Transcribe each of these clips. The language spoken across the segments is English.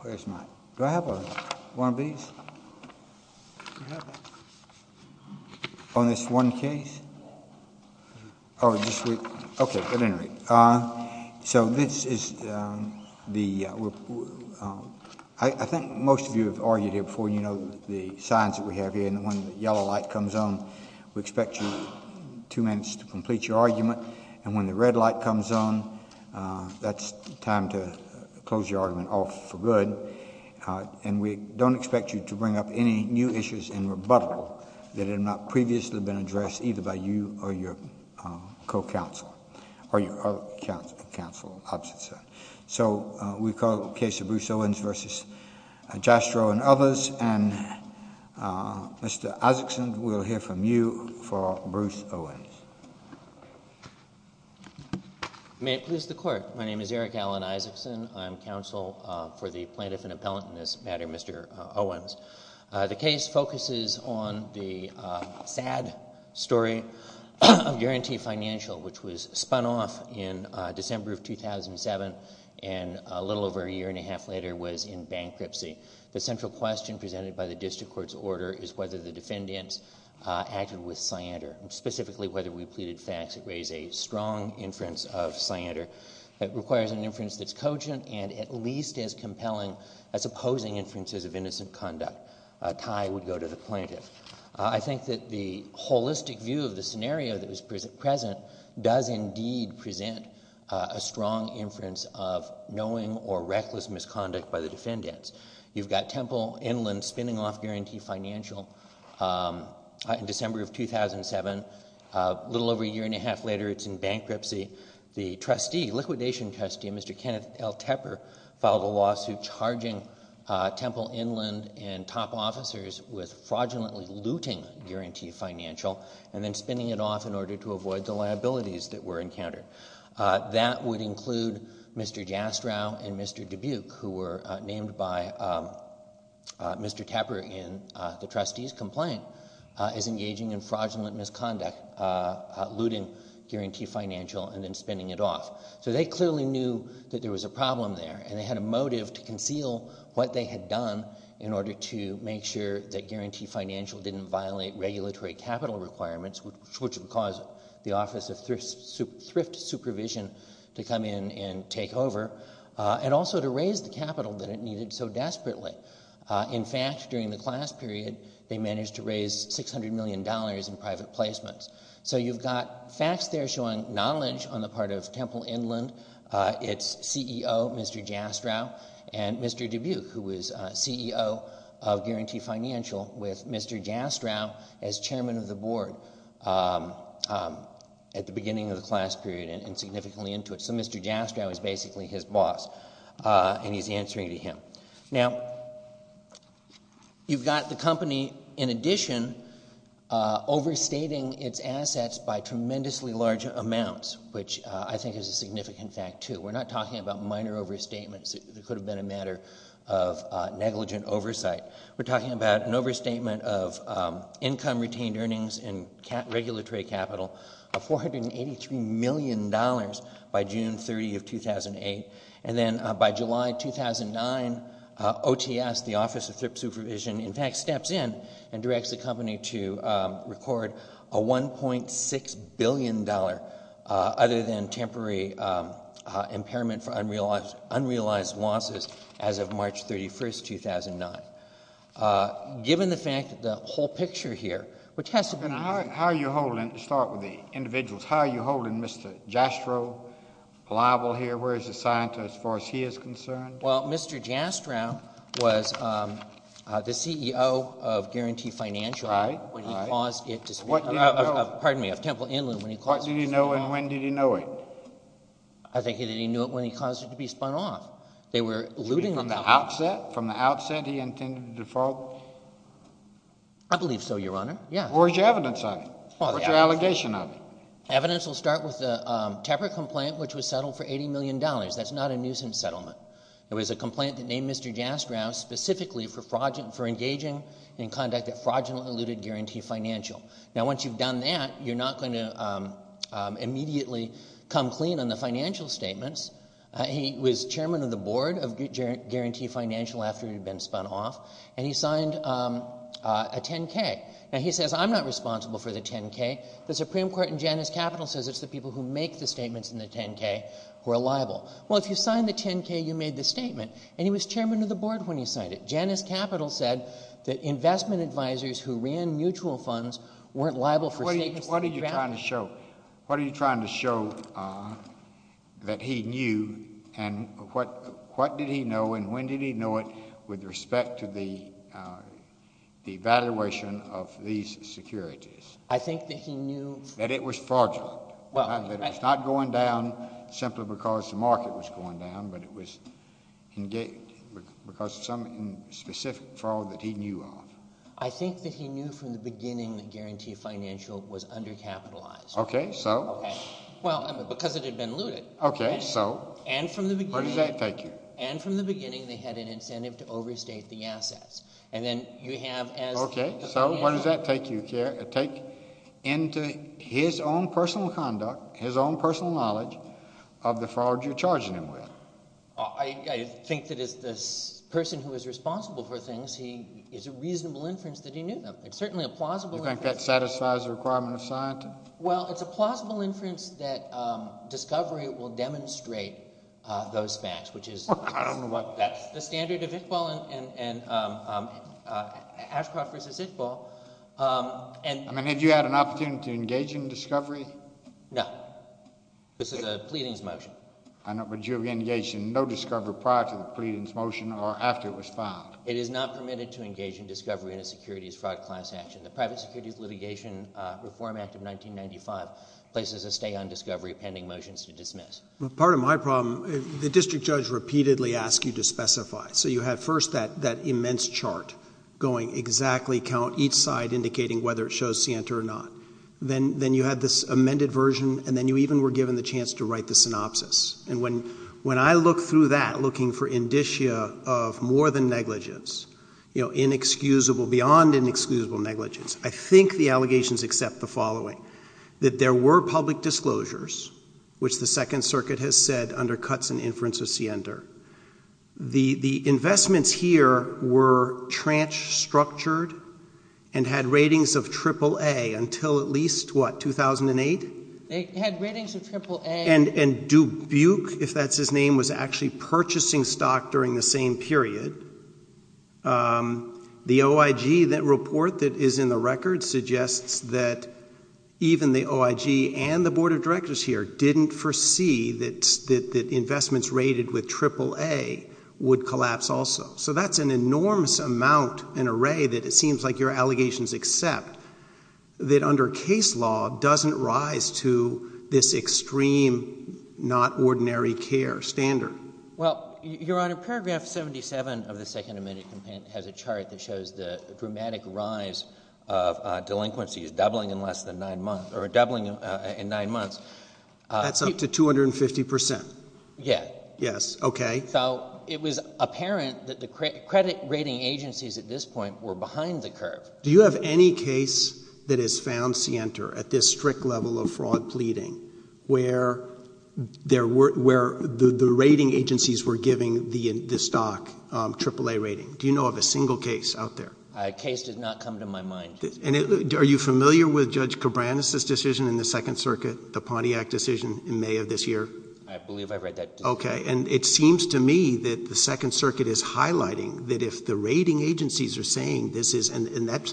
Where's my... Do I have one of these? On this one case? Oh, just wait. Okay, at any rate. So this is the... I think most of you have argued here before, you know, the signs that we have here. And when the yellow light comes on, we expect you two minutes to complete your argument. And when the red light comes on, that's time to close your argument off for good. And we don't expect you to bring up any new issues in rebuttal that have not previously been addressed either by you or your co-counsel. Or your other counsel. So we call the case of Bruce Owens v. Jastrow and others. And Mr. Isaacson, we'll hear from you for Bruce Owens. May it please the Court. My name is Eric Alan Isaacson. I'm counsel for the plaintiff and appellant in this matter, Mr. Owens. The case focuses on the sad story of Guarantee Financial, which was spun off in December of 2007 and a little over a year and a half later was in bankruptcy. The central question presented by the district court's order is whether the defendants acted with cyander. Specifically, whether we pleaded facts that raise a strong inference of cyander. It requires an inference that's cogent and at least as compelling as opposing inferences of innocent conduct. A tie would go to the plaintiff. I think that the holistic view of the scenario that was present does indeed present a strong inference of knowing or reckless misconduct by the defendants. You've got Temple Inland spinning off Guarantee Financial in December of 2007. A little over a year and a half later it's in bankruptcy. The trustee, liquidation trustee, Mr. Kenneth L. Tepper, filed a lawsuit charging Temple Inland and top officers with fraudulently looting Guarantee Financial and then spinning it off in order to avoid the liabilities that were encountered. That would include Mr. Jastrow and Mr. Dubuque, who were named by Mr. Tepper in the trustee's complaint, as engaging in fraudulent misconduct, looting Guarantee Financial and then spinning it off. So they clearly knew that there was a problem there and they had a motive to conceal what they had done in order to make sure that Guarantee Financial didn't violate regulatory capital requirements, which would cause the Office of Thrift Supervision to come in and take over and also to raise the capital that it needed so desperately. In fact, during the class period, they managed to raise $600 million in private placements. So you've got facts there showing knowledge on the part of Temple Inland, its CEO, Mr. Jastrow, and Mr. Dubuque, who was CEO of Guarantee Financial with Mr. Jastrow as chairman of the board at the beginning of the class period and significantly into it. So Mr. Jastrow is basically his boss and he's answering to him. Now, you've got the company, in addition, overstating its assets by tremendously large amounts, which I think is a significant fact, too. We're not talking about minor overstatements. It could have been a matter of negligent oversight. We're talking about an overstatement of income-retained earnings and regulatory capital of $483 million by June 30 of 2008. And then by July 2009, OTS, the Office of Thrift Supervision, in fact, steps in and directs the company to record a $1.6 billion other than temporary impairment for unrealized losses as of March 31, 2009. Given the fact that the whole picture here, which has to be— And how are you holding—to start with the individuals, how are you holding Mr. Jastrow liable here? Where is the scientist as far as he is concerned? Well, Mr. Jastrow was the CEO of Guarantee Financial when he caused it to— What did he know? Pardon me, of Temple Inland when he caused it to be spun off. What did he know and when did he know it? I think that he knew it when he caused it to be spun off. They were looting the company. From the outset? From the outset he intended to defraud? I believe so, Your Honor. Where is your evidence of it? What's your allegation of it? Evidence will start with the Tepper complaint, which was settled for $80 million. That's not a nuisance settlement. It was a complaint that named Mr. Jastrow specifically for engaging in conduct that fraudulently looted Guarantee Financial. Now, once you've done that, you're not going to immediately come clean on the financial statements. He was chairman of the board of Guarantee Financial after it had been spun off, and he signed a 10-K. Now, he says, I'm not responsible for the 10-K. The Supreme Court in Janus Capital says it's the people who make the statements in the 10-K who are liable. Well, if you signed the 10-K, you made the statement, and he was chairman of the board when he signed it. Janus Capital said that investment advisors who ran mutual funds weren't liable for statements— What are you trying to show? What are you trying to show that he knew, and what did he know, and when did he know it with respect to the evaluation of these securities? I think that he knew— That it was fraudulent, that it was not going down simply because the market was going down, but it was because of some specific fraud that he knew of. I think that he knew from the beginning that Guarantee Financial was undercapitalized. Okay, so? Well, because it had been looted. Okay, so? And from the beginning— Where does that take you? And from the beginning, they had an incentive to overstate the assets. And then you have, as— Okay, so where does that take you? Take into his own personal conduct, his own personal knowledge of the fraud you're charging him with. I think that as the person who is responsible for things, it's a reasonable inference that he knew them. It's certainly a plausible inference— You think that satisfies the requirement of science? Well, it's a plausible inference that discovery will demonstrate those facts, which is— I don't know what— That's the standard of Iqbal and Ashcroft versus Iqbal. I mean, have you had an opportunity to engage in discovery? No. This is a pleadings motion. Would you have engaged in no discovery prior to the pleadings motion or after it was filed? It is not permitted to engage in discovery in a securities fraud class action. The Private Securities Litigation Reform Act of 1995 places a stay on discovery pending motions to dismiss. Part of my problem, the district judge repeatedly asks you to specify. So you have first that immense chart going exactly, count each side indicating whether it shows scienter or not. Then you had this amended version, and then you even were given the chance to write the synopsis. And when I look through that looking for indicia of more than negligence, you know, inexcusable, beyond inexcusable negligence, I think the allegations accept the following, that there were public disclosures, which the Second Circuit has said undercuts an inference of Siender. The investments here were trans-structured and had ratings of triple A until at least, what, 2008? They had ratings of triple A. And Dubuque, if that's his name, was actually purchasing stock during the same period. The OIG report that is in the record suggests that even the OIG and the Board of Directors here didn't foresee that investments rated with triple A would collapse also. So that's an enormous amount and array that it seems like your allegations accept, that under case law doesn't rise to this extreme, not ordinary care standard. Well, Your Honor, paragraph 77 of the Second Amendment has a chart that shows the dramatic rise of delinquencies doubling in less than nine months, or doubling in nine months. That's up to 250 percent? Yeah. Yes. Okay. So it was apparent that the credit rating agencies at this point were behind the curve. Do you have any case that has found Siender at this strict level of fraud pleading where the rating agencies were giving the stock triple A rating? Do you know of a single case out there? A case did not come to my mind. Are you familiar with Judge Cabranes' decision in the Second Circuit, the Pontiac decision in May of this year? I believe I've read that. Okay. And it seems to me that the Second Circuit is highlighting that if the rating agencies are saying this is, and that's,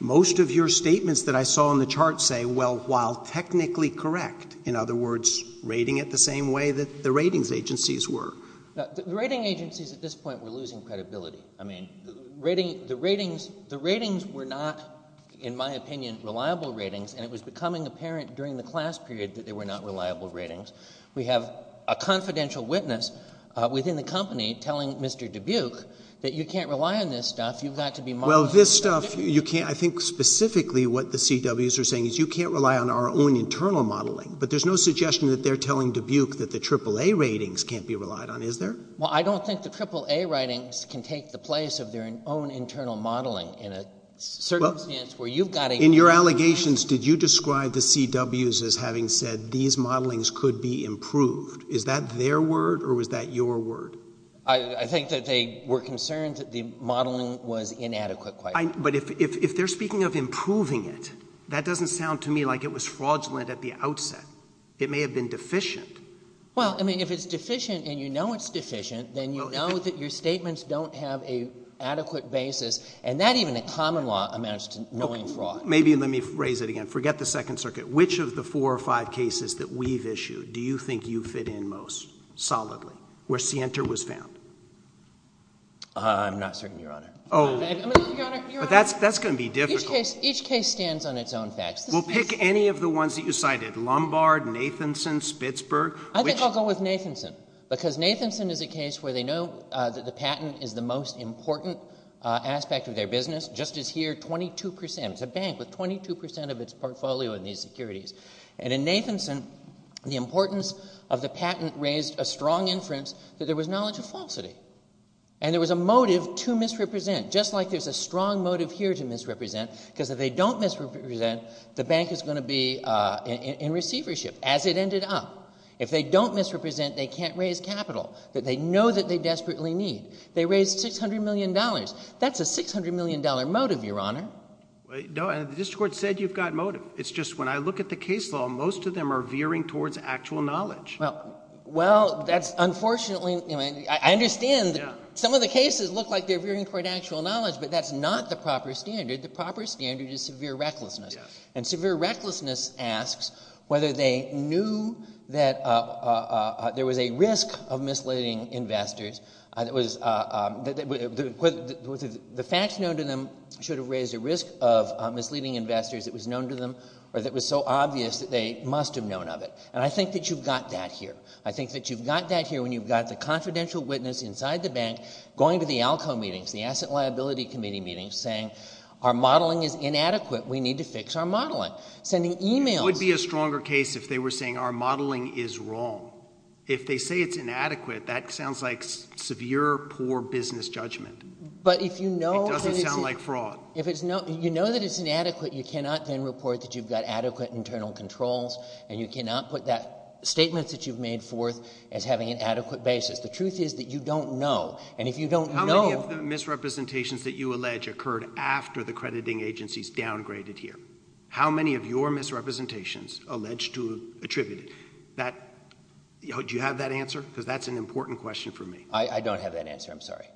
most of your statements that I saw on the chart say, well, while technically correct, in other words, rating it the same way that the ratings agencies were. The rating agencies at this point were losing credibility. I mean, the ratings were not, in my opinion, reliable ratings, and it was becoming apparent during the class period that they were not reliable ratings. We have a confidential witness within the company telling Mr. Dubuque that you can't rely on this stuff. You've got to be modeling it. Well, this stuff, you can't. I think specifically what the CWs are saying is you can't rely on our own internal modeling. But there's no suggestion that they're telling Dubuque that the triple A ratings can't be relied on, is there? Well, I don't think the triple A ratings can take the place of their own internal modeling in a circumstance where you've got to rely on that. In the negotiations, did you describe the CWs as having said these modelings could be improved? Is that their word, or was that your word? I think that they were concerned that the modeling was inadequate, quite frankly. But if they're speaking of improving it, that doesn't sound to me like it was fraudulent at the outset. It may have been deficient. Well, I mean, if it's deficient and you know it's deficient, then you know that your statements don't have an adequate basis, and that even in common law amounts to knowing fraud. Well, maybe let me phrase it again. Forget the Second Circuit. Which of the four or five cases that we've issued do you think you fit in most, solidly, where Sienta was found? I'm not certain, Your Honor. But that's going to be difficult. Each case stands on its own facts. Well, pick any of the ones that you cited, Lombard, Nathanson, Spitzberg. I think I'll go with Nathanson because Nathanson is a case where they know that the patent is the most important aspect of their business. Just as here, 22 percent. It's a bank with 22 percent of its portfolio in these securities. And in Nathanson, the importance of the patent raised a strong inference that there was knowledge of falsity. And there was a motive to misrepresent, just like there's a strong motive here to misrepresent because if they don't misrepresent, the bank is going to be in receivership, as it ended up. If they don't misrepresent, they can't raise capital that they know that they desperately need. They raised $600 million. That's a $600 million motive, Your Honor. No, and the district court said you've got motive. It's just when I look at the case law, most of them are veering towards actual knowledge. Well, that's unfortunately – I understand some of the cases look like they're veering toward actual knowledge, but that's not the proper standard. The proper standard is severe recklessness. And severe recklessness asks whether they knew that there was a risk of misleading investors. The facts known to them should have raised a risk of misleading investors that was known to them or that was so obvious that they must have known of it. And I think that you've got that here. I think that you've got that here when you've got the confidential witness inside the bank going to the ALCO meetings, the Asset Liability Committee meetings, saying our modeling is inadequate. We need to fix our modeling, sending emails. It would be a stronger case if they were saying our modeling is wrong. If they say it's inadequate, that sounds like severe, poor business judgment. But if you know that it's – It doesn't sound like fraud. If it's – you know that it's inadequate, you cannot then report that you've got adequate internal controls, and you cannot put that – statements that you've made forth as having an adequate basis. The truth is that you don't know, and if you don't know – How many misrepresentations that you allege occurred after the crediting agencies downgraded here? How many of your misrepresentations allege to have attributed? That – do you have that answer? Because that's an important question for me. I don't have that answer. I'm sorry.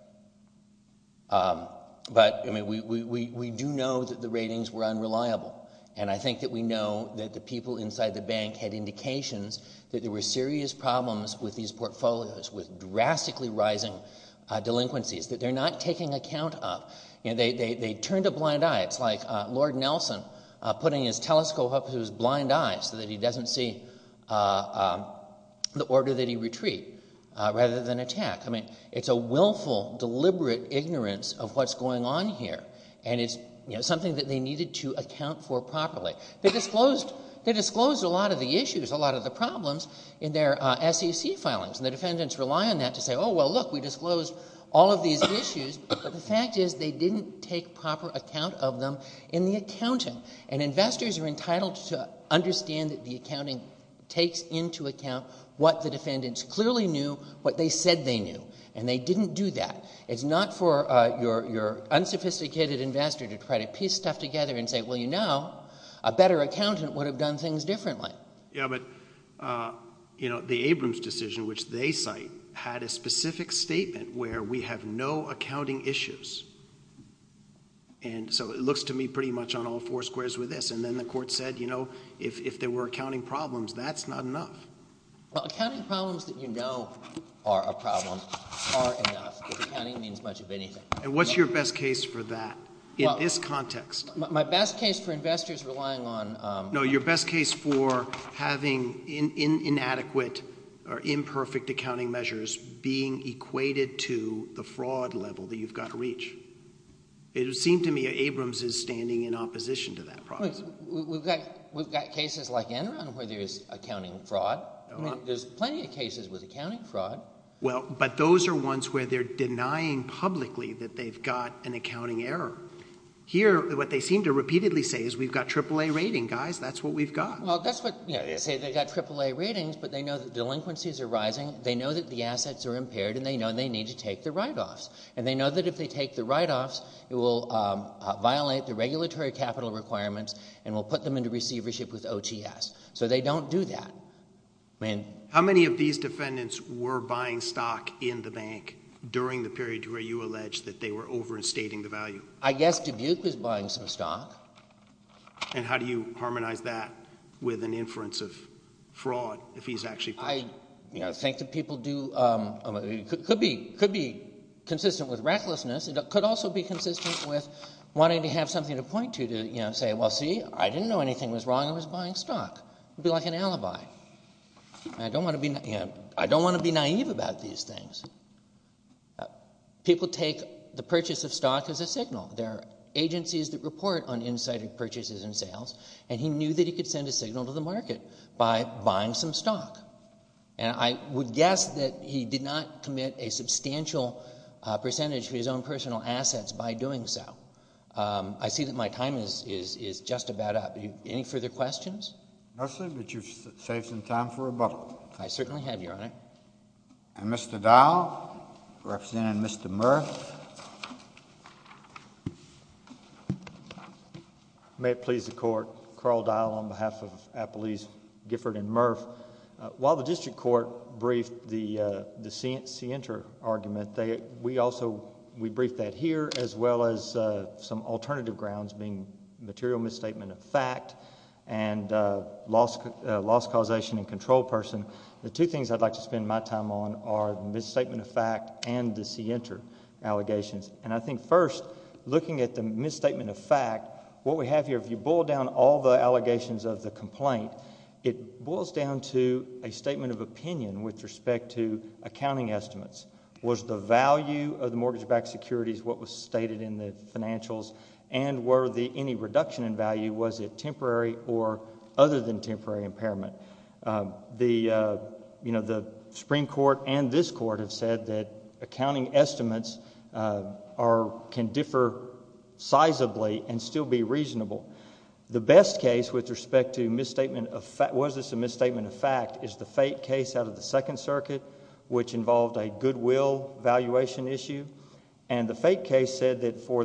But, I mean, we do know that the ratings were unreliable, and I think that we know that the people inside the bank had indications that there were serious problems with these portfolios, with drastically rising delinquencies that they're not taking account of. They turned a blind eye. It's like Lord Nelson putting his telescope up to his blind eye so that he doesn't see the order that he retreat rather than attack. I mean, it's a willful, deliberate ignorance of what's going on here, and it's something that they needed to account for properly. They disclosed a lot of the issues, a lot of the problems in their SEC filings, and the defendants rely on that to say, oh, well, look, we disclosed all of these issues. But the fact is they didn't take proper account of them in the accounting, and investors are entitled to understand that the accounting takes into account what the defendants clearly knew, what they said they knew, and they didn't do that. It's not for your unsophisticated investor to try to piece stuff together and say, well, you know, a better accountant would have done things differently. Yeah, but the Abrams decision, which they cite, had a specific statement where we have no accounting issues. And so it looks to me pretty much on all four squares with this. And then the court said, you know, if there were accounting problems, that's not enough. Well, accounting problems that you know are a problem are enough. Accounting means much of anything. And what's your best case for that in this context? My best case for investors relying on – No, your best case for having inadequate or imperfect accounting measures being equated to the fraud level that you've got to reach. It would seem to me that Abrams is standing in opposition to that process. We've got cases like Enron where there's accounting fraud. There's plenty of cases with accounting fraud. Well, but those are ones where they're denying publicly that they've got an accounting error. Here, what they seem to repeatedly say is we've got AAA rating, guys. That's what we've got. Well, that's what – they say they've got AAA ratings, but they know that delinquencies are rising. They know that the assets are impaired, and they know they need to take the write-offs. And they know that if they take the write-offs, it will violate the regulatory capital requirements and will put them into receivership with OTS. So they don't do that. How many of these defendants were buying stock in the bank during the period where you allege that they were overstating the value? I guess Dubuque was buying some stock. And how do you harmonize that with an inference of fraud if he's actually – I think that people do – it could be consistent with recklessness. It could also be consistent with wanting to have something to point to, to say, well, see, I didn't know anything was wrong. I was buying stock. It would be like an alibi. I don't want to be naïve about these things. People take the purchase of stock as a signal. There are agencies that report on incited purchases and sales, and he knew that he could send a signal to the market by buying some stock. And I would guess that he did not commit a substantial percentage of his own personal assets by doing so. I see that my time is just about up. Any further questions? No, sir, but you've saved some time for rebuttal. I certainly have, Your Honor. And Mr. Dial, representing Mr. Murph. May it please the Court. Carl Dial on behalf of Appellees Gifford and Murph. While the district court briefed the scienter argument, we also – we briefed that here, as well as some alternative grounds, being material misstatement of fact and loss causation in control person. The two things I'd like to spend my time on are the misstatement of fact and the scienter allegations. And I think, first, looking at the misstatement of fact, what we have here, if you boil down all the allegations of the complaint, it boils down to a statement of opinion with respect to accounting estimates. Was the value of the mortgage-backed securities what was stated in the financials? And were there any reduction in value? Was it temporary or other than temporary impairment? The Supreme Court and this Court have said that accounting estimates can differ sizably and still be reasonable. The best case with respect to misstatement of fact – was this a misstatement of fact – is the FATE case out of the Second Circuit, which involved a goodwill valuation issue. And the FATE case said that for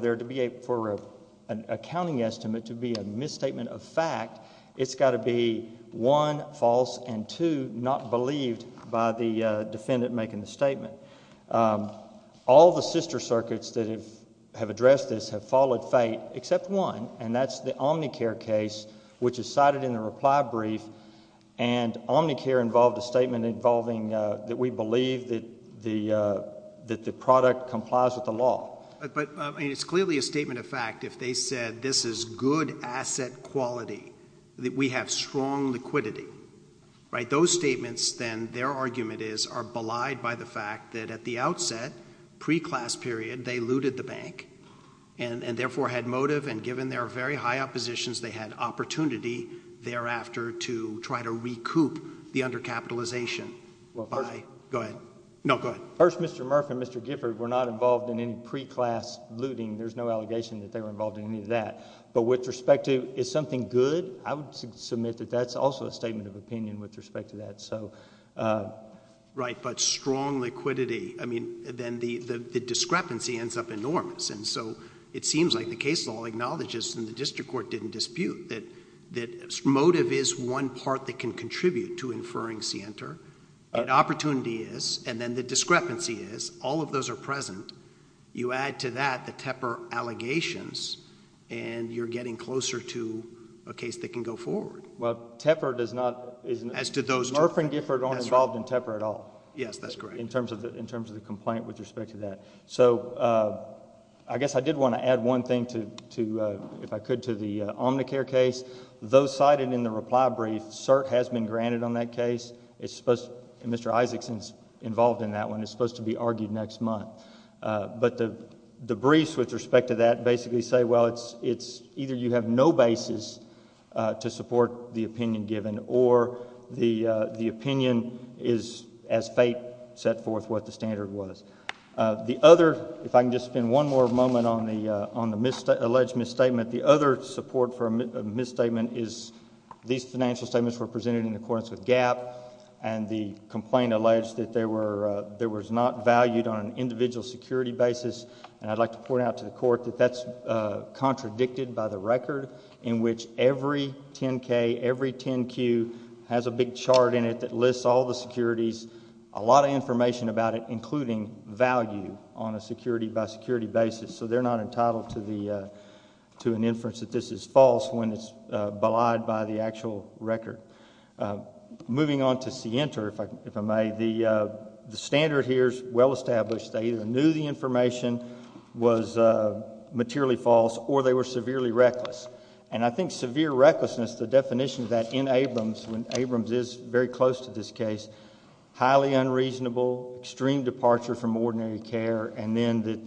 an accounting estimate to be a misstatement of fact, it's got to be one, false, and two, not believed by the defendant making the statement. All the sister circuits that have addressed this have followed FATE except one, and that's the Omnicare case, which is cited in the reply brief. And Omnicare involved a statement involving that we believe that the product complies with the law. But it's clearly a statement of fact if they said this is good asset quality, that we have strong liquidity, right? Those statements then, their argument is, are belied by the fact that at the outset, pre-class period, they looted the bank and therefore had motive, and given their very high oppositions, they had opportunity thereafter to try to recoup the undercapitalization by – go ahead. No, go ahead. First, Mr. Murph and Mr. Gifford were not involved in any pre-class looting. There's no allegation that they were involved in any of that. But with respect to, is something good? I would submit that that's also a statement of opinion with respect to that. Right, but strong liquidity. I mean, then the discrepancy ends up enormous, and so it seems like the case law acknowledges, and the district court didn't dispute, that motive is one part that can contribute to inferring scienter, and opportunity is, and then the discrepancy is, all of those are present. You add to that the Tepper allegations, and you're getting closer to a case that can go forward. Well, Tepper does not – As do those two. Murph and Gifford aren't involved in Tepper at all. Yes, that's correct. In terms of the complaint with respect to that. So I guess I did want to add one thing to, if I could, to the Omnicare case. Those cited in the reply brief, cert has been granted on that case. Mr. Isaacson is involved in that one. It's supposed to be argued next month. But the briefs with respect to that basically say, well, it's either you have no basis to support the opinion given or the opinion is, as fate set forth, what the standard was. The other, if I can just spend one more moment on the alleged misstatement, the other support for a misstatement is these financial statements were presented in accordance with GAAP and the complaint alleged that they were not valued on an individual security basis. And I'd like to point out to the court that that's contradicted by the record in which every 10-K, every 10-Q has a big chart in it that lists all the securities, a lot of information about it, including value on a security-by-security basis. So they're not entitled to an inference that this is false when it's belied by the actual record. Moving on to SIENTA, if I may, the standard here is well established. They either knew the information was materially false or they were severely reckless. And I think severe recklessness, the definition of that in Abrams, when Abrams is very close to this case, highly unreasonable, extreme departure from ordinary care, and then that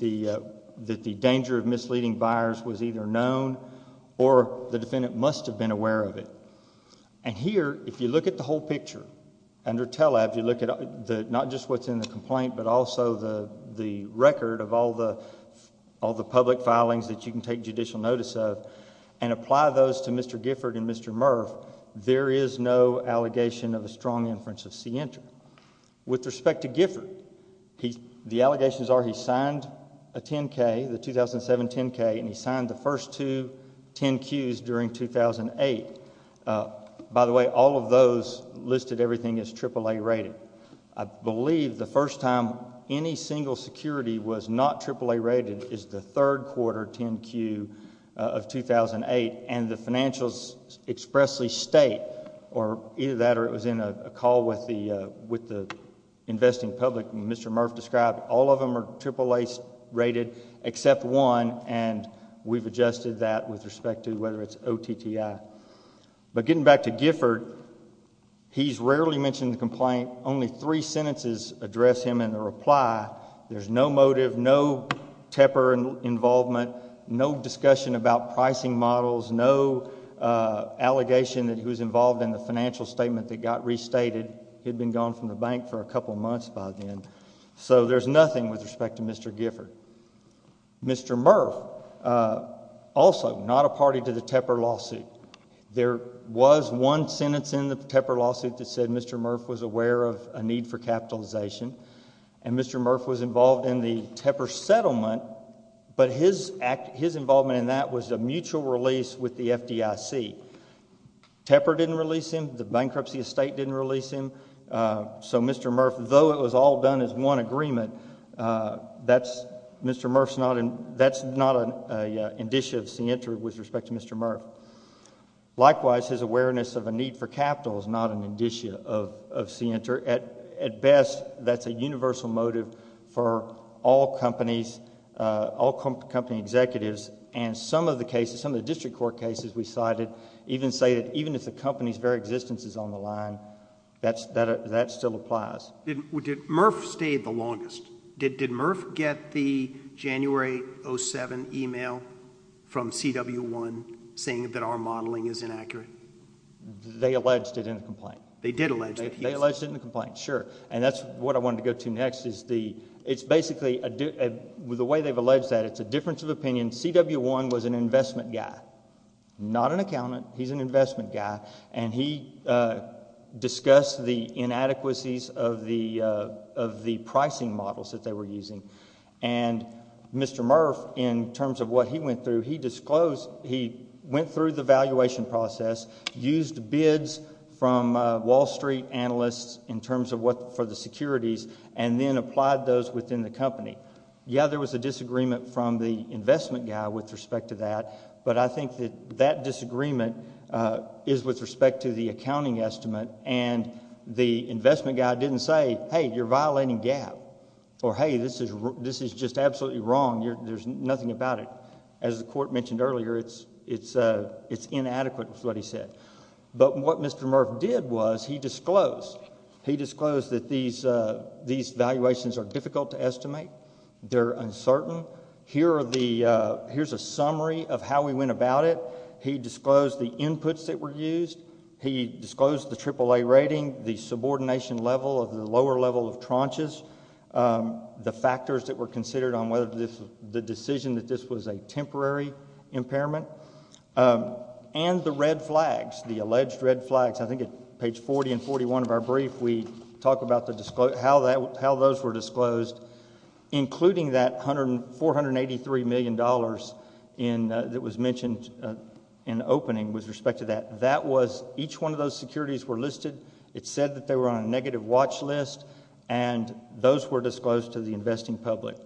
the danger of misleading buyers was either known or the defendant must have been aware of it. And here, if you look at the whole picture under TELA, if you look at not just what's in the complaint, but also the record of all the public filings that you can take judicial notice of and apply those to Mr. Gifford and Mr. Murph, there is no allegation of a strong inference of SIENTA. With respect to Gifford, the allegations are he signed a 10-K, the 2007 10-K, and he signed the first two 10-Qs during 2008. By the way, all of those listed everything as AAA rated. I believe the first time any single security was not AAA rated is the third quarter 10-Q of 2008, and the financials expressly state, or either that or it was in a call with the investing public, and Mr. Murph described all of them are AAA rated except one, and we've adjusted that with respect to whether it's OTTI. But getting back to Gifford, he's rarely mentioned in the complaint. Only three sentences address him in the reply. There's no motive, no Tepper involvement, no discussion about pricing models, no allegation that he was involved in the financial statement that got restated. He had been gone from the bank for a couple months by then. So there's nothing with respect to Mr. Gifford. Mr. Murph, also not a party to the Tepper lawsuit. There was one sentence in the Tepper lawsuit that said Mr. Murph was aware of a need for capitalization, and Mr. Murph was involved in the Tepper settlement, but his involvement in that was a mutual release with the FDIC. Tepper didn't release him. The bankruptcy estate didn't release him. So Mr. Murph, though it was all done as one agreement, that's not an indicia of scienter with respect to Mr. Murph. Likewise, his awareness of a need for capital is not an indicia of scienter. At best, that's a universal motive for all company executives, and some of the cases, some of the district court cases we cited even say that even if the company's very existence is on the line, that still applies. Did Murph stay the longest? Did Murph get the January 07 email from CW1 saying that our modeling is inaccurate? They alleged it in the complaint. They did allege it. They alleged it in the complaint, sure, and that's what I wanted to go to next. It's basically, the way they've alleged that, it's a difference of opinion. CW1 was an investment guy, not an accountant. He's an investment guy, and he discussed the inadequacies of the pricing models that they were using, and Mr. Murph, in terms of what he went through, he went through the valuation process, used bids from Wall Street analysts in terms of what for the securities, and then applied those within the company. Yeah, there was a disagreement from the investment guy with respect to that, but I think that that disagreement is with respect to the accounting estimate, and the investment guy didn't say, hey, you're violating GAAP, or hey, this is just absolutely wrong. There's nothing about it. As the court mentioned earlier, it's inadequate is what he said, but what Mr. Murph did was he disclosed. He disclosed that these valuations are difficult to estimate. They're uncertain. Here's a summary of how we went about it. He disclosed the inputs that were used. He disclosed the AAA rating, the subordination level of the lower level of tranches, the factors that were considered on whether the decision that this was a temporary impairment, and the red flags, the alleged red flags. I think at page 40 and 41 of our brief, we talk about how those were disclosed, including that $483 million that was mentioned in the opening with respect to that. That was each one of those securities were listed. It said that they were on a negative watch list, and those were disclosed to the investing public.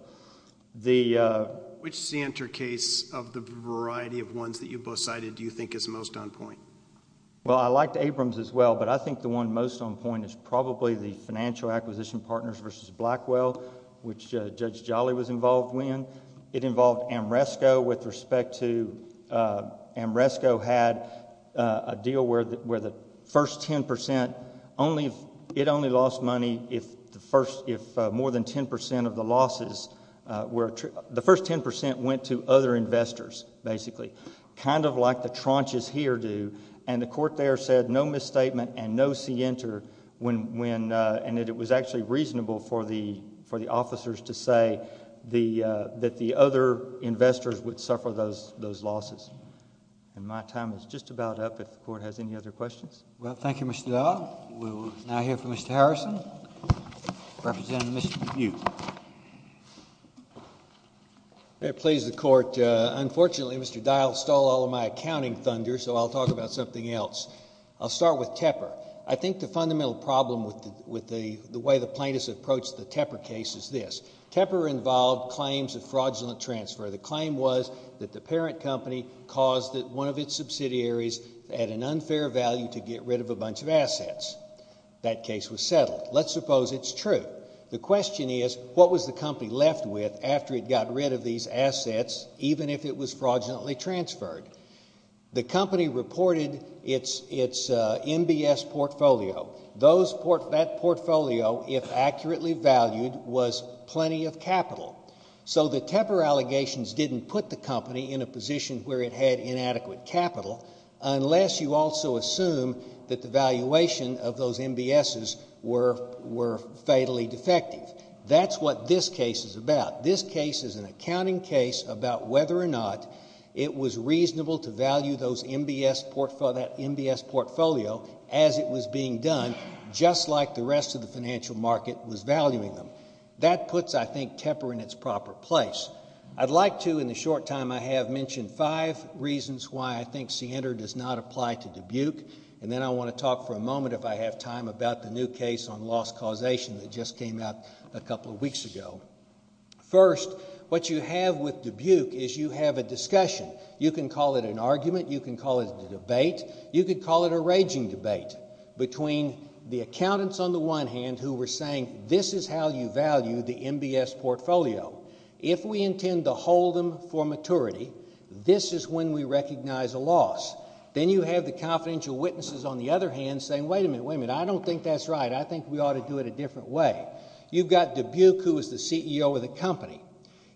Which center case of the variety of ones that you both cited do you think is most on point? Well, I liked Abrams as well, but I think the one most on point is probably the financial acquisition partners versus Blackwell, which Judge Jolly was involved in. It involved Amresco with respect to... Amresco had a deal where the first 10%... It only lost money if more than 10% of the losses were... The first 10% went to other investors, basically, kind of like the tranches here do. The court there said no misstatement and no see-enter, and that it was actually reasonable for the officers to say that the other investors would suffer those losses. My time is just about up if the court has any other questions. Well, thank you, Mr. Dial. We will now hear from Mr. Harrison, representing Mr. McHugh. Please, the court. Unfortunately, Mr. Dial stole all of my accounting thunder, so I'll talk about something else. I'll start with Tepper. I think the fundamental problem with the way the plaintiffs approached the Tepper case is this. Tepper involved claims of fraudulent transfer. The claim was that the parent company caused one of its subsidiaries at an unfair value to get rid of a bunch of assets. That case was settled. Let's suppose it's true. The question is, what was the company left with after it got rid of these assets, even if it was fraudulently transferred? The company reported its MBS portfolio. That portfolio, if accurately valued, was plenty of capital. So the Tepper allegations didn't put the company in a position where it had inadequate capital, unless you also assume that the valuation of those MBSs were fatally defective. That's what this case is about. This case is an accounting case about whether or not it was reasonable to value that MBS portfolio as it was being done, just like the rest of the financial market was valuing them. That puts, I think, Tepper in its proper place. I'd like to, in the short time I have, mention five reasons why I think Siener does not apply to Dubuque, and then I want to talk for a moment, if I have time, about the new case on loss causation that just came out a couple of weeks ago. First, what you have with Dubuque is you have a discussion. You can call it an argument. You can call it a debate. You could call it a raging debate between the accountants on the one hand who were saying, this is how you value the MBS portfolio. If we intend to hold them for maturity, this is when we recognize a loss. Then you have the confidential witnesses on the other hand saying, wait a minute, wait a minute, I don't think that's right. I think we ought to do it a different way. You've got Dubuque, who is the CEO of the company.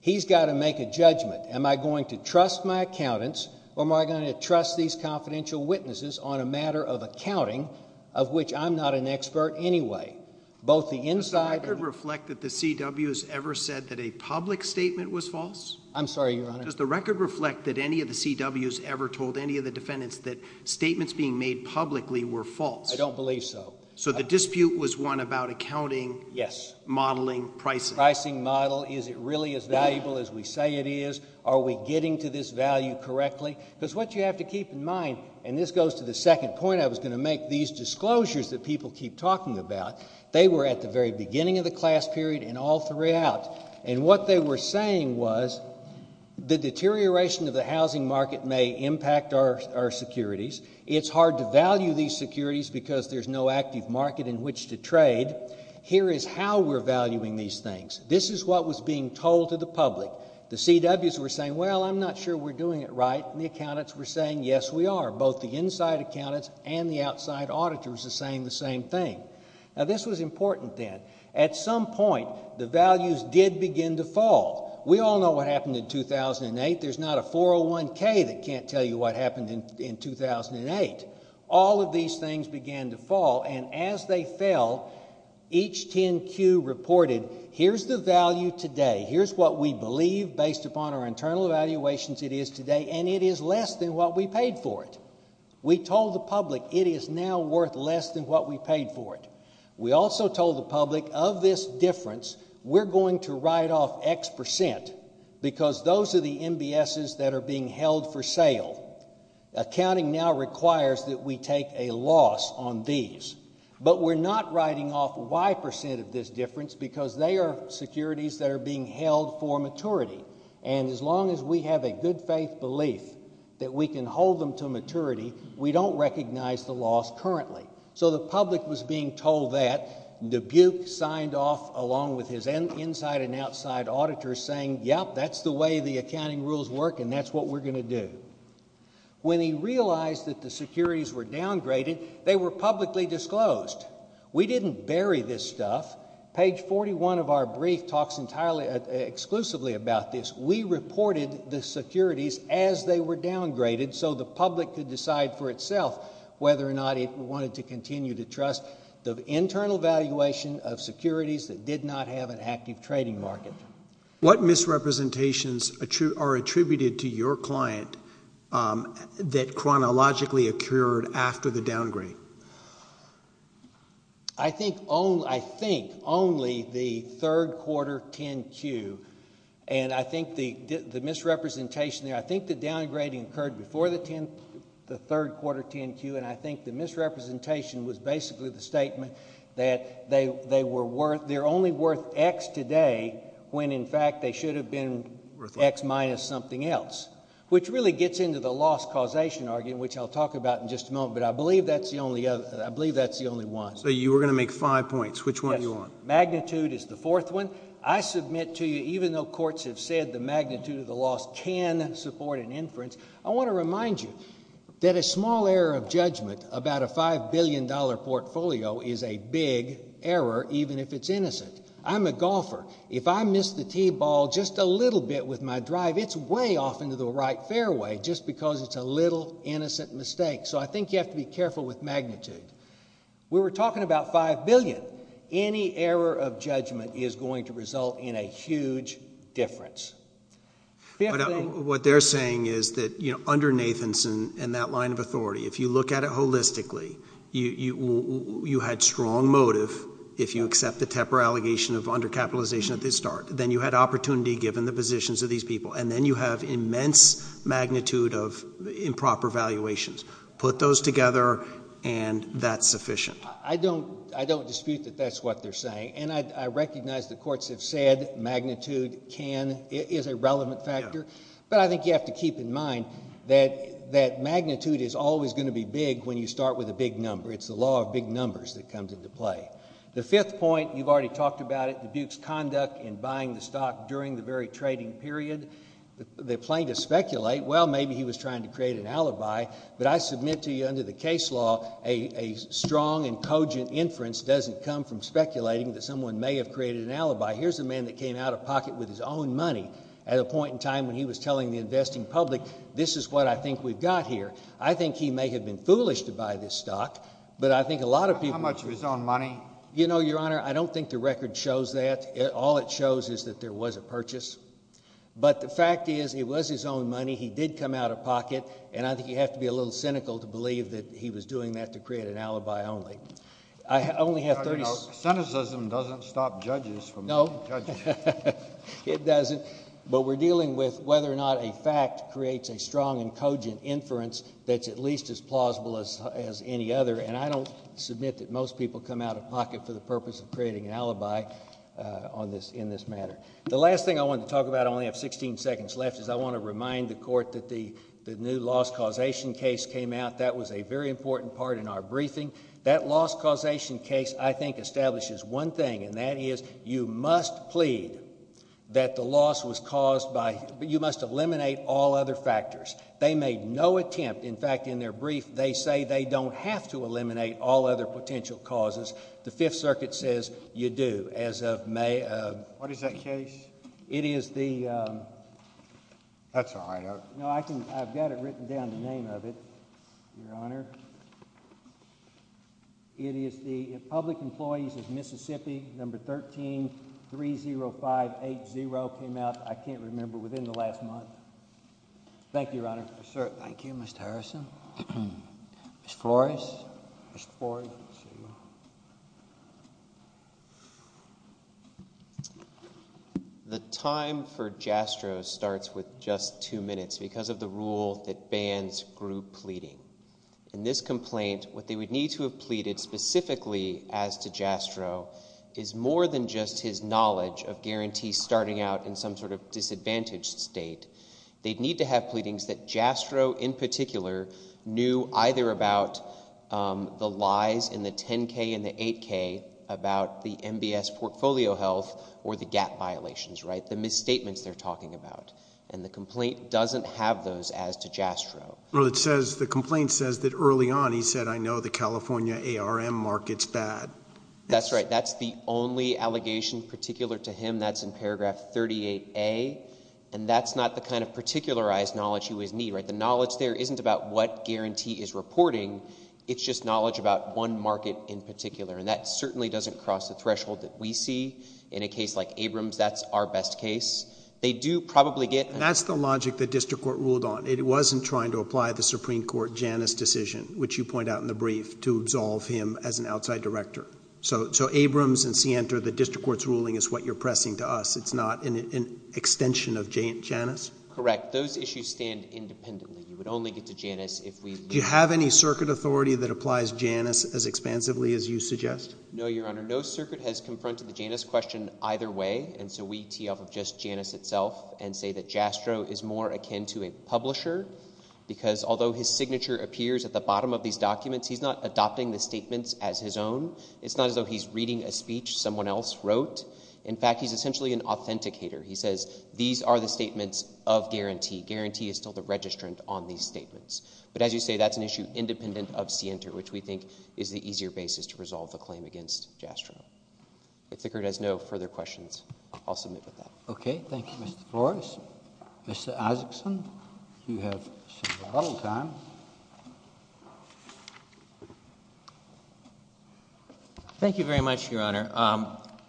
He's got to make a judgment. Am I going to trust my accountants or am I going to trust these confidential witnesses on a matter of accounting of which I'm not an expert anyway? Does the record reflect that the CW has ever said that a public statement was false? I'm sorry, Your Honor. Does the record reflect that any of the CWs ever told any of the defendants that statements being made publicly were false? I don't believe so. So the dispute was one about accounting. Yes. Modeling, pricing. Pricing model. Is it really as valuable as we say it is? Are we getting to this value correctly? Because what you have to keep in mind, and this goes to the second point I was going to make, these disclosures that people keep talking about, they were at the very beginning of the class period and all three out. And what they were saying was the deterioration of the housing market may impact our securities. It's hard to value these securities because there's no active market in which to trade. Here is how we're valuing these things. This is what was being told to the public. The CWs were saying, well, I'm not sure we're doing it right, and the accountants were saying, yes, we are. Both the inside accountants and the outside auditors are saying the same thing. Now, this was important then. At some point, the values did begin to fall. We all know what happened in 2008. There's not a 401K that can't tell you what happened in 2008. All of these things began to fall, and as they fell, each 10Q reported, here's the value today. Here's what we believe based upon our internal evaluations it is today, and it is less than what we paid for it. We told the public it is now worth less than what we paid for it. We also told the public of this difference, we're going to write off X percent because those are the MBSs that are being held for sale. Accounting now requires that we take a loss on these, but we're not writing off Y percent of this difference because they are securities that are being held for maturity, and as long as we have a good-faith belief that we can hold them to maturity, we don't recognize the loss currently. So the public was being told that. Dubuque signed off along with his inside and outside auditors saying, yep, that's the way the accounting rules work, and that's what we're going to do. When he realized that the securities were downgraded, they were publicly disclosed. We didn't bury this stuff. Page 41 of our brief talks exclusively about this. We reported the securities as they were downgraded so the public could decide for itself whether or not it wanted to continue to trust the internal valuation of securities that did not have an active trading market. What misrepresentations are attributed to your client that chronologically occurred after the downgrade? I think only the third quarter 10-Q, and I think the misrepresentation there, I think the downgrading occurred before the third quarter 10-Q, and I think the misrepresentation was basically the statement that they're only worth X today when, in fact, they should have been worth X minus something else, which really gets into the loss causation argument, which I'll talk about in just a moment, but I believe that's the only one. So you were going to make five points. Which one do you want? Magnitude is the fourth one. I submit to you, even though courts have said the magnitude of the loss can support an inference, I want to remind you that a small error of judgment about a $5 billion portfolio is a big error, even if it's innocent. I'm a golfer. If I miss the tee ball just a little bit with my drive, it's way off into the right fairway, just because it's a little innocent mistake. So I think you have to be careful with magnitude. We were talking about $5 billion. Any error of judgment is going to result in a huge difference. What they're saying is that under Nathanson and that line of authority, if you look at it holistically, you had strong motive if you accept the Tepper allegation of undercapitalization at the start. Then you had opportunity given the positions of these people, and then you have immense magnitude of improper valuations. Put those together, and that's sufficient. I don't dispute that that's what they're saying, and I recognize the courts have said magnitude is a relevant factor, but I think you have to keep in mind that magnitude is always going to be big when you start with a big number. It's the law of big numbers that comes into play. The fifth point, you've already talked about it, the Duke's conduct in buying the stock during the very trading period. They're playing to speculate. Well, maybe he was trying to create an alibi, but I submit to you under the case law a strong and cogent inference doesn't come from speculating that someone may have created an alibi. Here's a man that came out of pocket with his own money at a point in time when he was telling the investing public, this is what I think we've got here. I think he may have been foolish to buy this stock, but I think a lot of people— How much of his own money? You know, Your Honor, I don't think the record shows that. All it shows is that there was a purchase, but the fact is it was his own money. He did come out of pocket, and I think you have to be a little cynical to believe that he was doing that to create an alibi only. I only have 30— Your Honor, you know, cynicism doesn't stop judges from judging. No, it doesn't. But we're dealing with whether or not a fact creates a strong and cogent inference that's at least as plausible as any other, and I don't submit that most people come out of pocket for the purpose of creating an alibi in this matter. The last thing I want to talk about—I only have 16 seconds left—is I want to remind the Court that the new loss causation case came out. That was a very important part in our briefing. That loss causation case, I think, establishes one thing, and that is you must plead that the loss was caused by— you must eliminate all other factors. They made no attempt. In fact, in their brief, they say they don't have to eliminate all other potential causes. The Fifth Circuit says you do. What is that case? It is the— That's all I know. No, I've got it written down, the name of it, Your Honor. It is the Public Employees of Mississippi, number 13-30580, came out, I can't remember, within the last month. Thank you, Your Honor. Thank you, Mr. Harrison. Ms. Flores? Ms. Flores? The time for Jastrow starts with just two minutes because of the rule that bans group pleading. In this complaint, what they would need to have pleaded specifically as to Jastrow is more than just his knowledge of guarantees starting out in some sort of disadvantaged state. They'd need to have pleadings that Jastrow in particular knew either about the lies in the 10-K and the 8-K about the MBS portfolio health or the gap violations, the misstatements they're talking about. And the complaint doesn't have those as to Jastrow. Well, it says—the complaint says that early on he said, I know the California ARM market's bad. That's right. That's the only allegation particular to him. And that's in paragraph 38A. And that's not the kind of particularized knowledge he would need. The knowledge there isn't about what guarantee is reporting. It's just knowledge about one market in particular. And that certainly doesn't cross the threshold that we see. In a case like Abrams, that's our best case. They do probably get— That's the logic the district court ruled on. It wasn't trying to apply the Supreme Court Janus decision, which you point out in the brief, to absolve him as an outside director. So Abrams and Sienta, the district court's ruling is what you're pressing to us. It's not an extension of Janus? Correct. Those issues stand independently. You would only get to Janus if we— Do you have any circuit authority that applies Janus as expansively as you suggest? No, Your Honor. No circuit has confronted the Janus question either way. And so we tee off of just Janus itself and say that Jastrow is more akin to a publisher because although his signature appears at the bottom of these documents, he's not adopting the statements as his own. It's not as though he's reading a speech someone else wrote. In fact, he's essentially an authenticator. He says these are the statements of guarantee. Guarantee is still the registrant on these statements. But as you say, that's an issue independent of Sienta, which we think is the easier basis to resolve the claim against Jastrow. If the court has no further questions, I'll submit with that. Okay. Thank you, Mr. Flores. Mr. Isaacson, you have some bottle time. Thank you very much, Your Honor.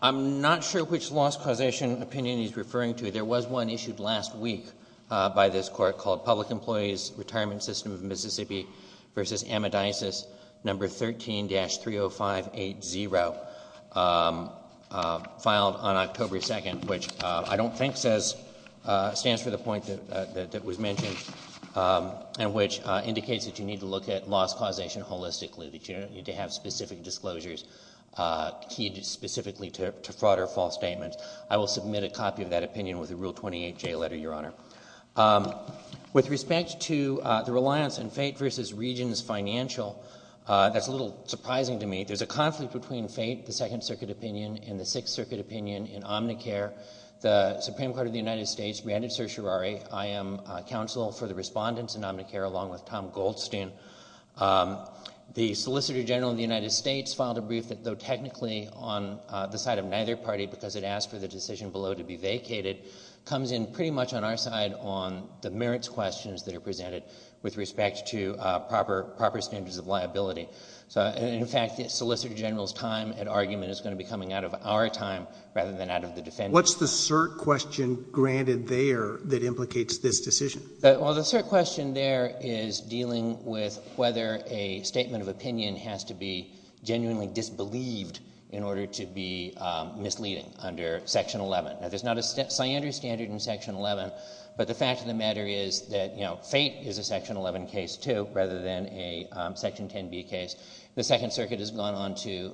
I'm not sure which loss causation opinion he's referring to. There was one issued last week by this court called Public Employees Retirement System of Mississippi v. Amidisis, No. 13-30580, filed on October 2nd, which I don't think stands for the point that was mentioned, and which indicates that you need to look at loss causation holistically, that you don't need to have specific disclosures keyed specifically to fraud or false statements. I will submit a copy of that opinion with a Rule 28J letter, Your Honor. With respect to the reliance on fate versus regions financial, that's a little surprising to me. There's a conflict between fate, the Second Circuit opinion, and the Sixth Circuit opinion in Omnicare. The Supreme Court of the United States granted certiorari. I am counsel for the respondents in Omnicare along with Tom Goldstein. The Solicitor General of the United States filed a brief that, though technically on the side of neither party because it asked for the decision below to be vacated, comes in pretty much on our side on the merits questions that are presented with respect to proper standards of liability. In fact, the Solicitor General's time and argument is going to be coming out of our time rather than out of the defendant's. What's the cert question granted there that implicates this decision? Well, the cert question there is dealing with whether a statement of opinion has to be genuinely disbelieved in order to be misleading under Section 11. Now, there's not a standard in Section 11, but the fact of the matter is that fate is a Section 11 case too rather than a Section 10b case. The Second Circuit has gone on to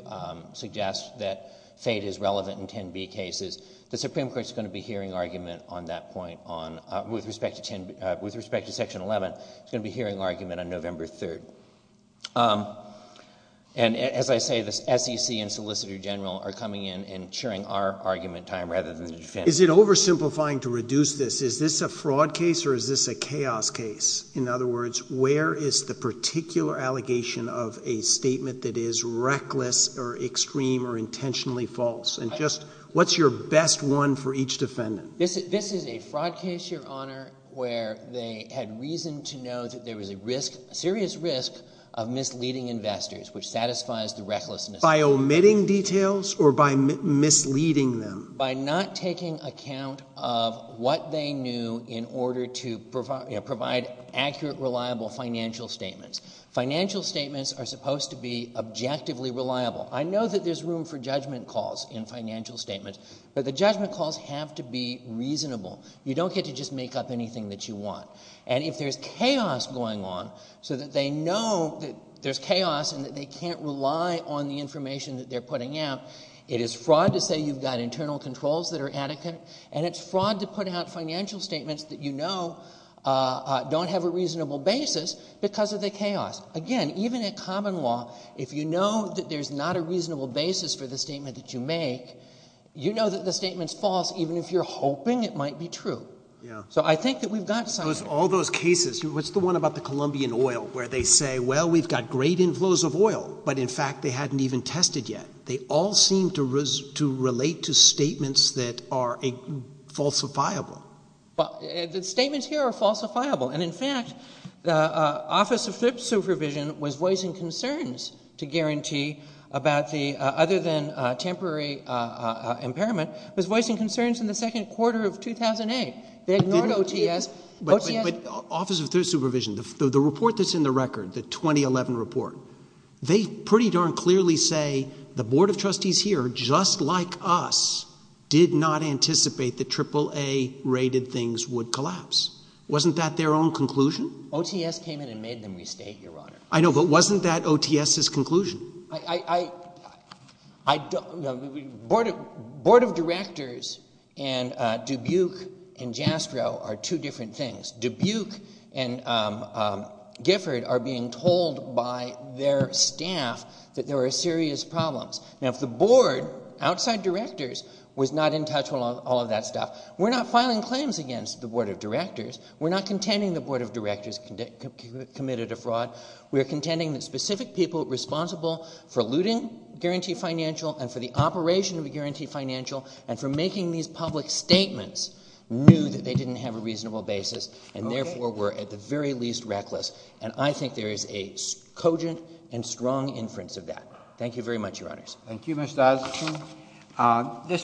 suggest that fate is relevant in 10b cases. The Supreme Court is going to be hearing argument on that point with respect to Section 11. It's going to be hearing argument on November 3rd. And as I say, the SEC and Solicitor General are coming in and sharing our argument time rather than the defendant's. Is it oversimplifying to reduce this? Is this a fraud case or is this a chaos case? In other words, where is the particular allegation of a statement that is reckless or extreme or intentionally false? And just what's your best one for each defendant? This is a fraud case, Your Honor, where they had reason to know that there was a risk, a serious risk of misleading investors, which satisfies the recklessness. By omitting details or by misleading them? By not taking account of what they knew in order to provide accurate, reliable financial statements. Financial statements are supposed to be objectively reliable. I know that there's room for judgment calls in financial statements, but the judgment calls have to be reasonable. You don't get to just make up anything that you want. And if there's chaos going on so that they know that there's chaos and that they can't rely on the information that they're putting out, it is fraud to say you've got internal controls that are adequate, and it's fraud to put out financial statements that you know don't have a reasonable basis because of the chaos. Again, even at common law, if you know that there's not a reasonable basis for the statement that you make, you know that the statement's false even if you're hoping it might be true. So I think that we've got some of it. All those cases, what's the one about the Colombian oil where they say, well, we've got great inflows of oil, but in fact they hadn't even tested yet? They all seem to relate to statements that are falsifiable. The statements here are falsifiable. And, in fact, the Office of Thrift Supervision was voicing concerns to guarantee about the other than temporary impairment, was voicing concerns in the second quarter of 2008. They ignored OTS. But Office of Thrift Supervision, the report that's in the record, the 2011 report, they pretty darn clearly say the Board of Trustees here, just like us, did not anticipate that AAA-rated things would collapse. Wasn't that their own conclusion? OTS came in and made them restate, Your Honor. I know, but wasn't that OTS's conclusion? I don't know. Board of Directors and Dubuque and Jastrow are two different things. Dubuque and Gifford are being told by their staff that there are serious problems. Now, if the Board, outside directors, was not in touch with all of that stuff, we're not filing claims against the Board of Directors. We're not contending the Board of Directors committed a fraud. We are contending that specific people responsible for looting guaranteed financial and for the operation of a guaranteed financial and for making these public statements knew that they didn't have a reasonable basis and, therefore, were, at the very least, reckless. And I think there is a cogent and strong inference of that. Thank you very much, Your Honors.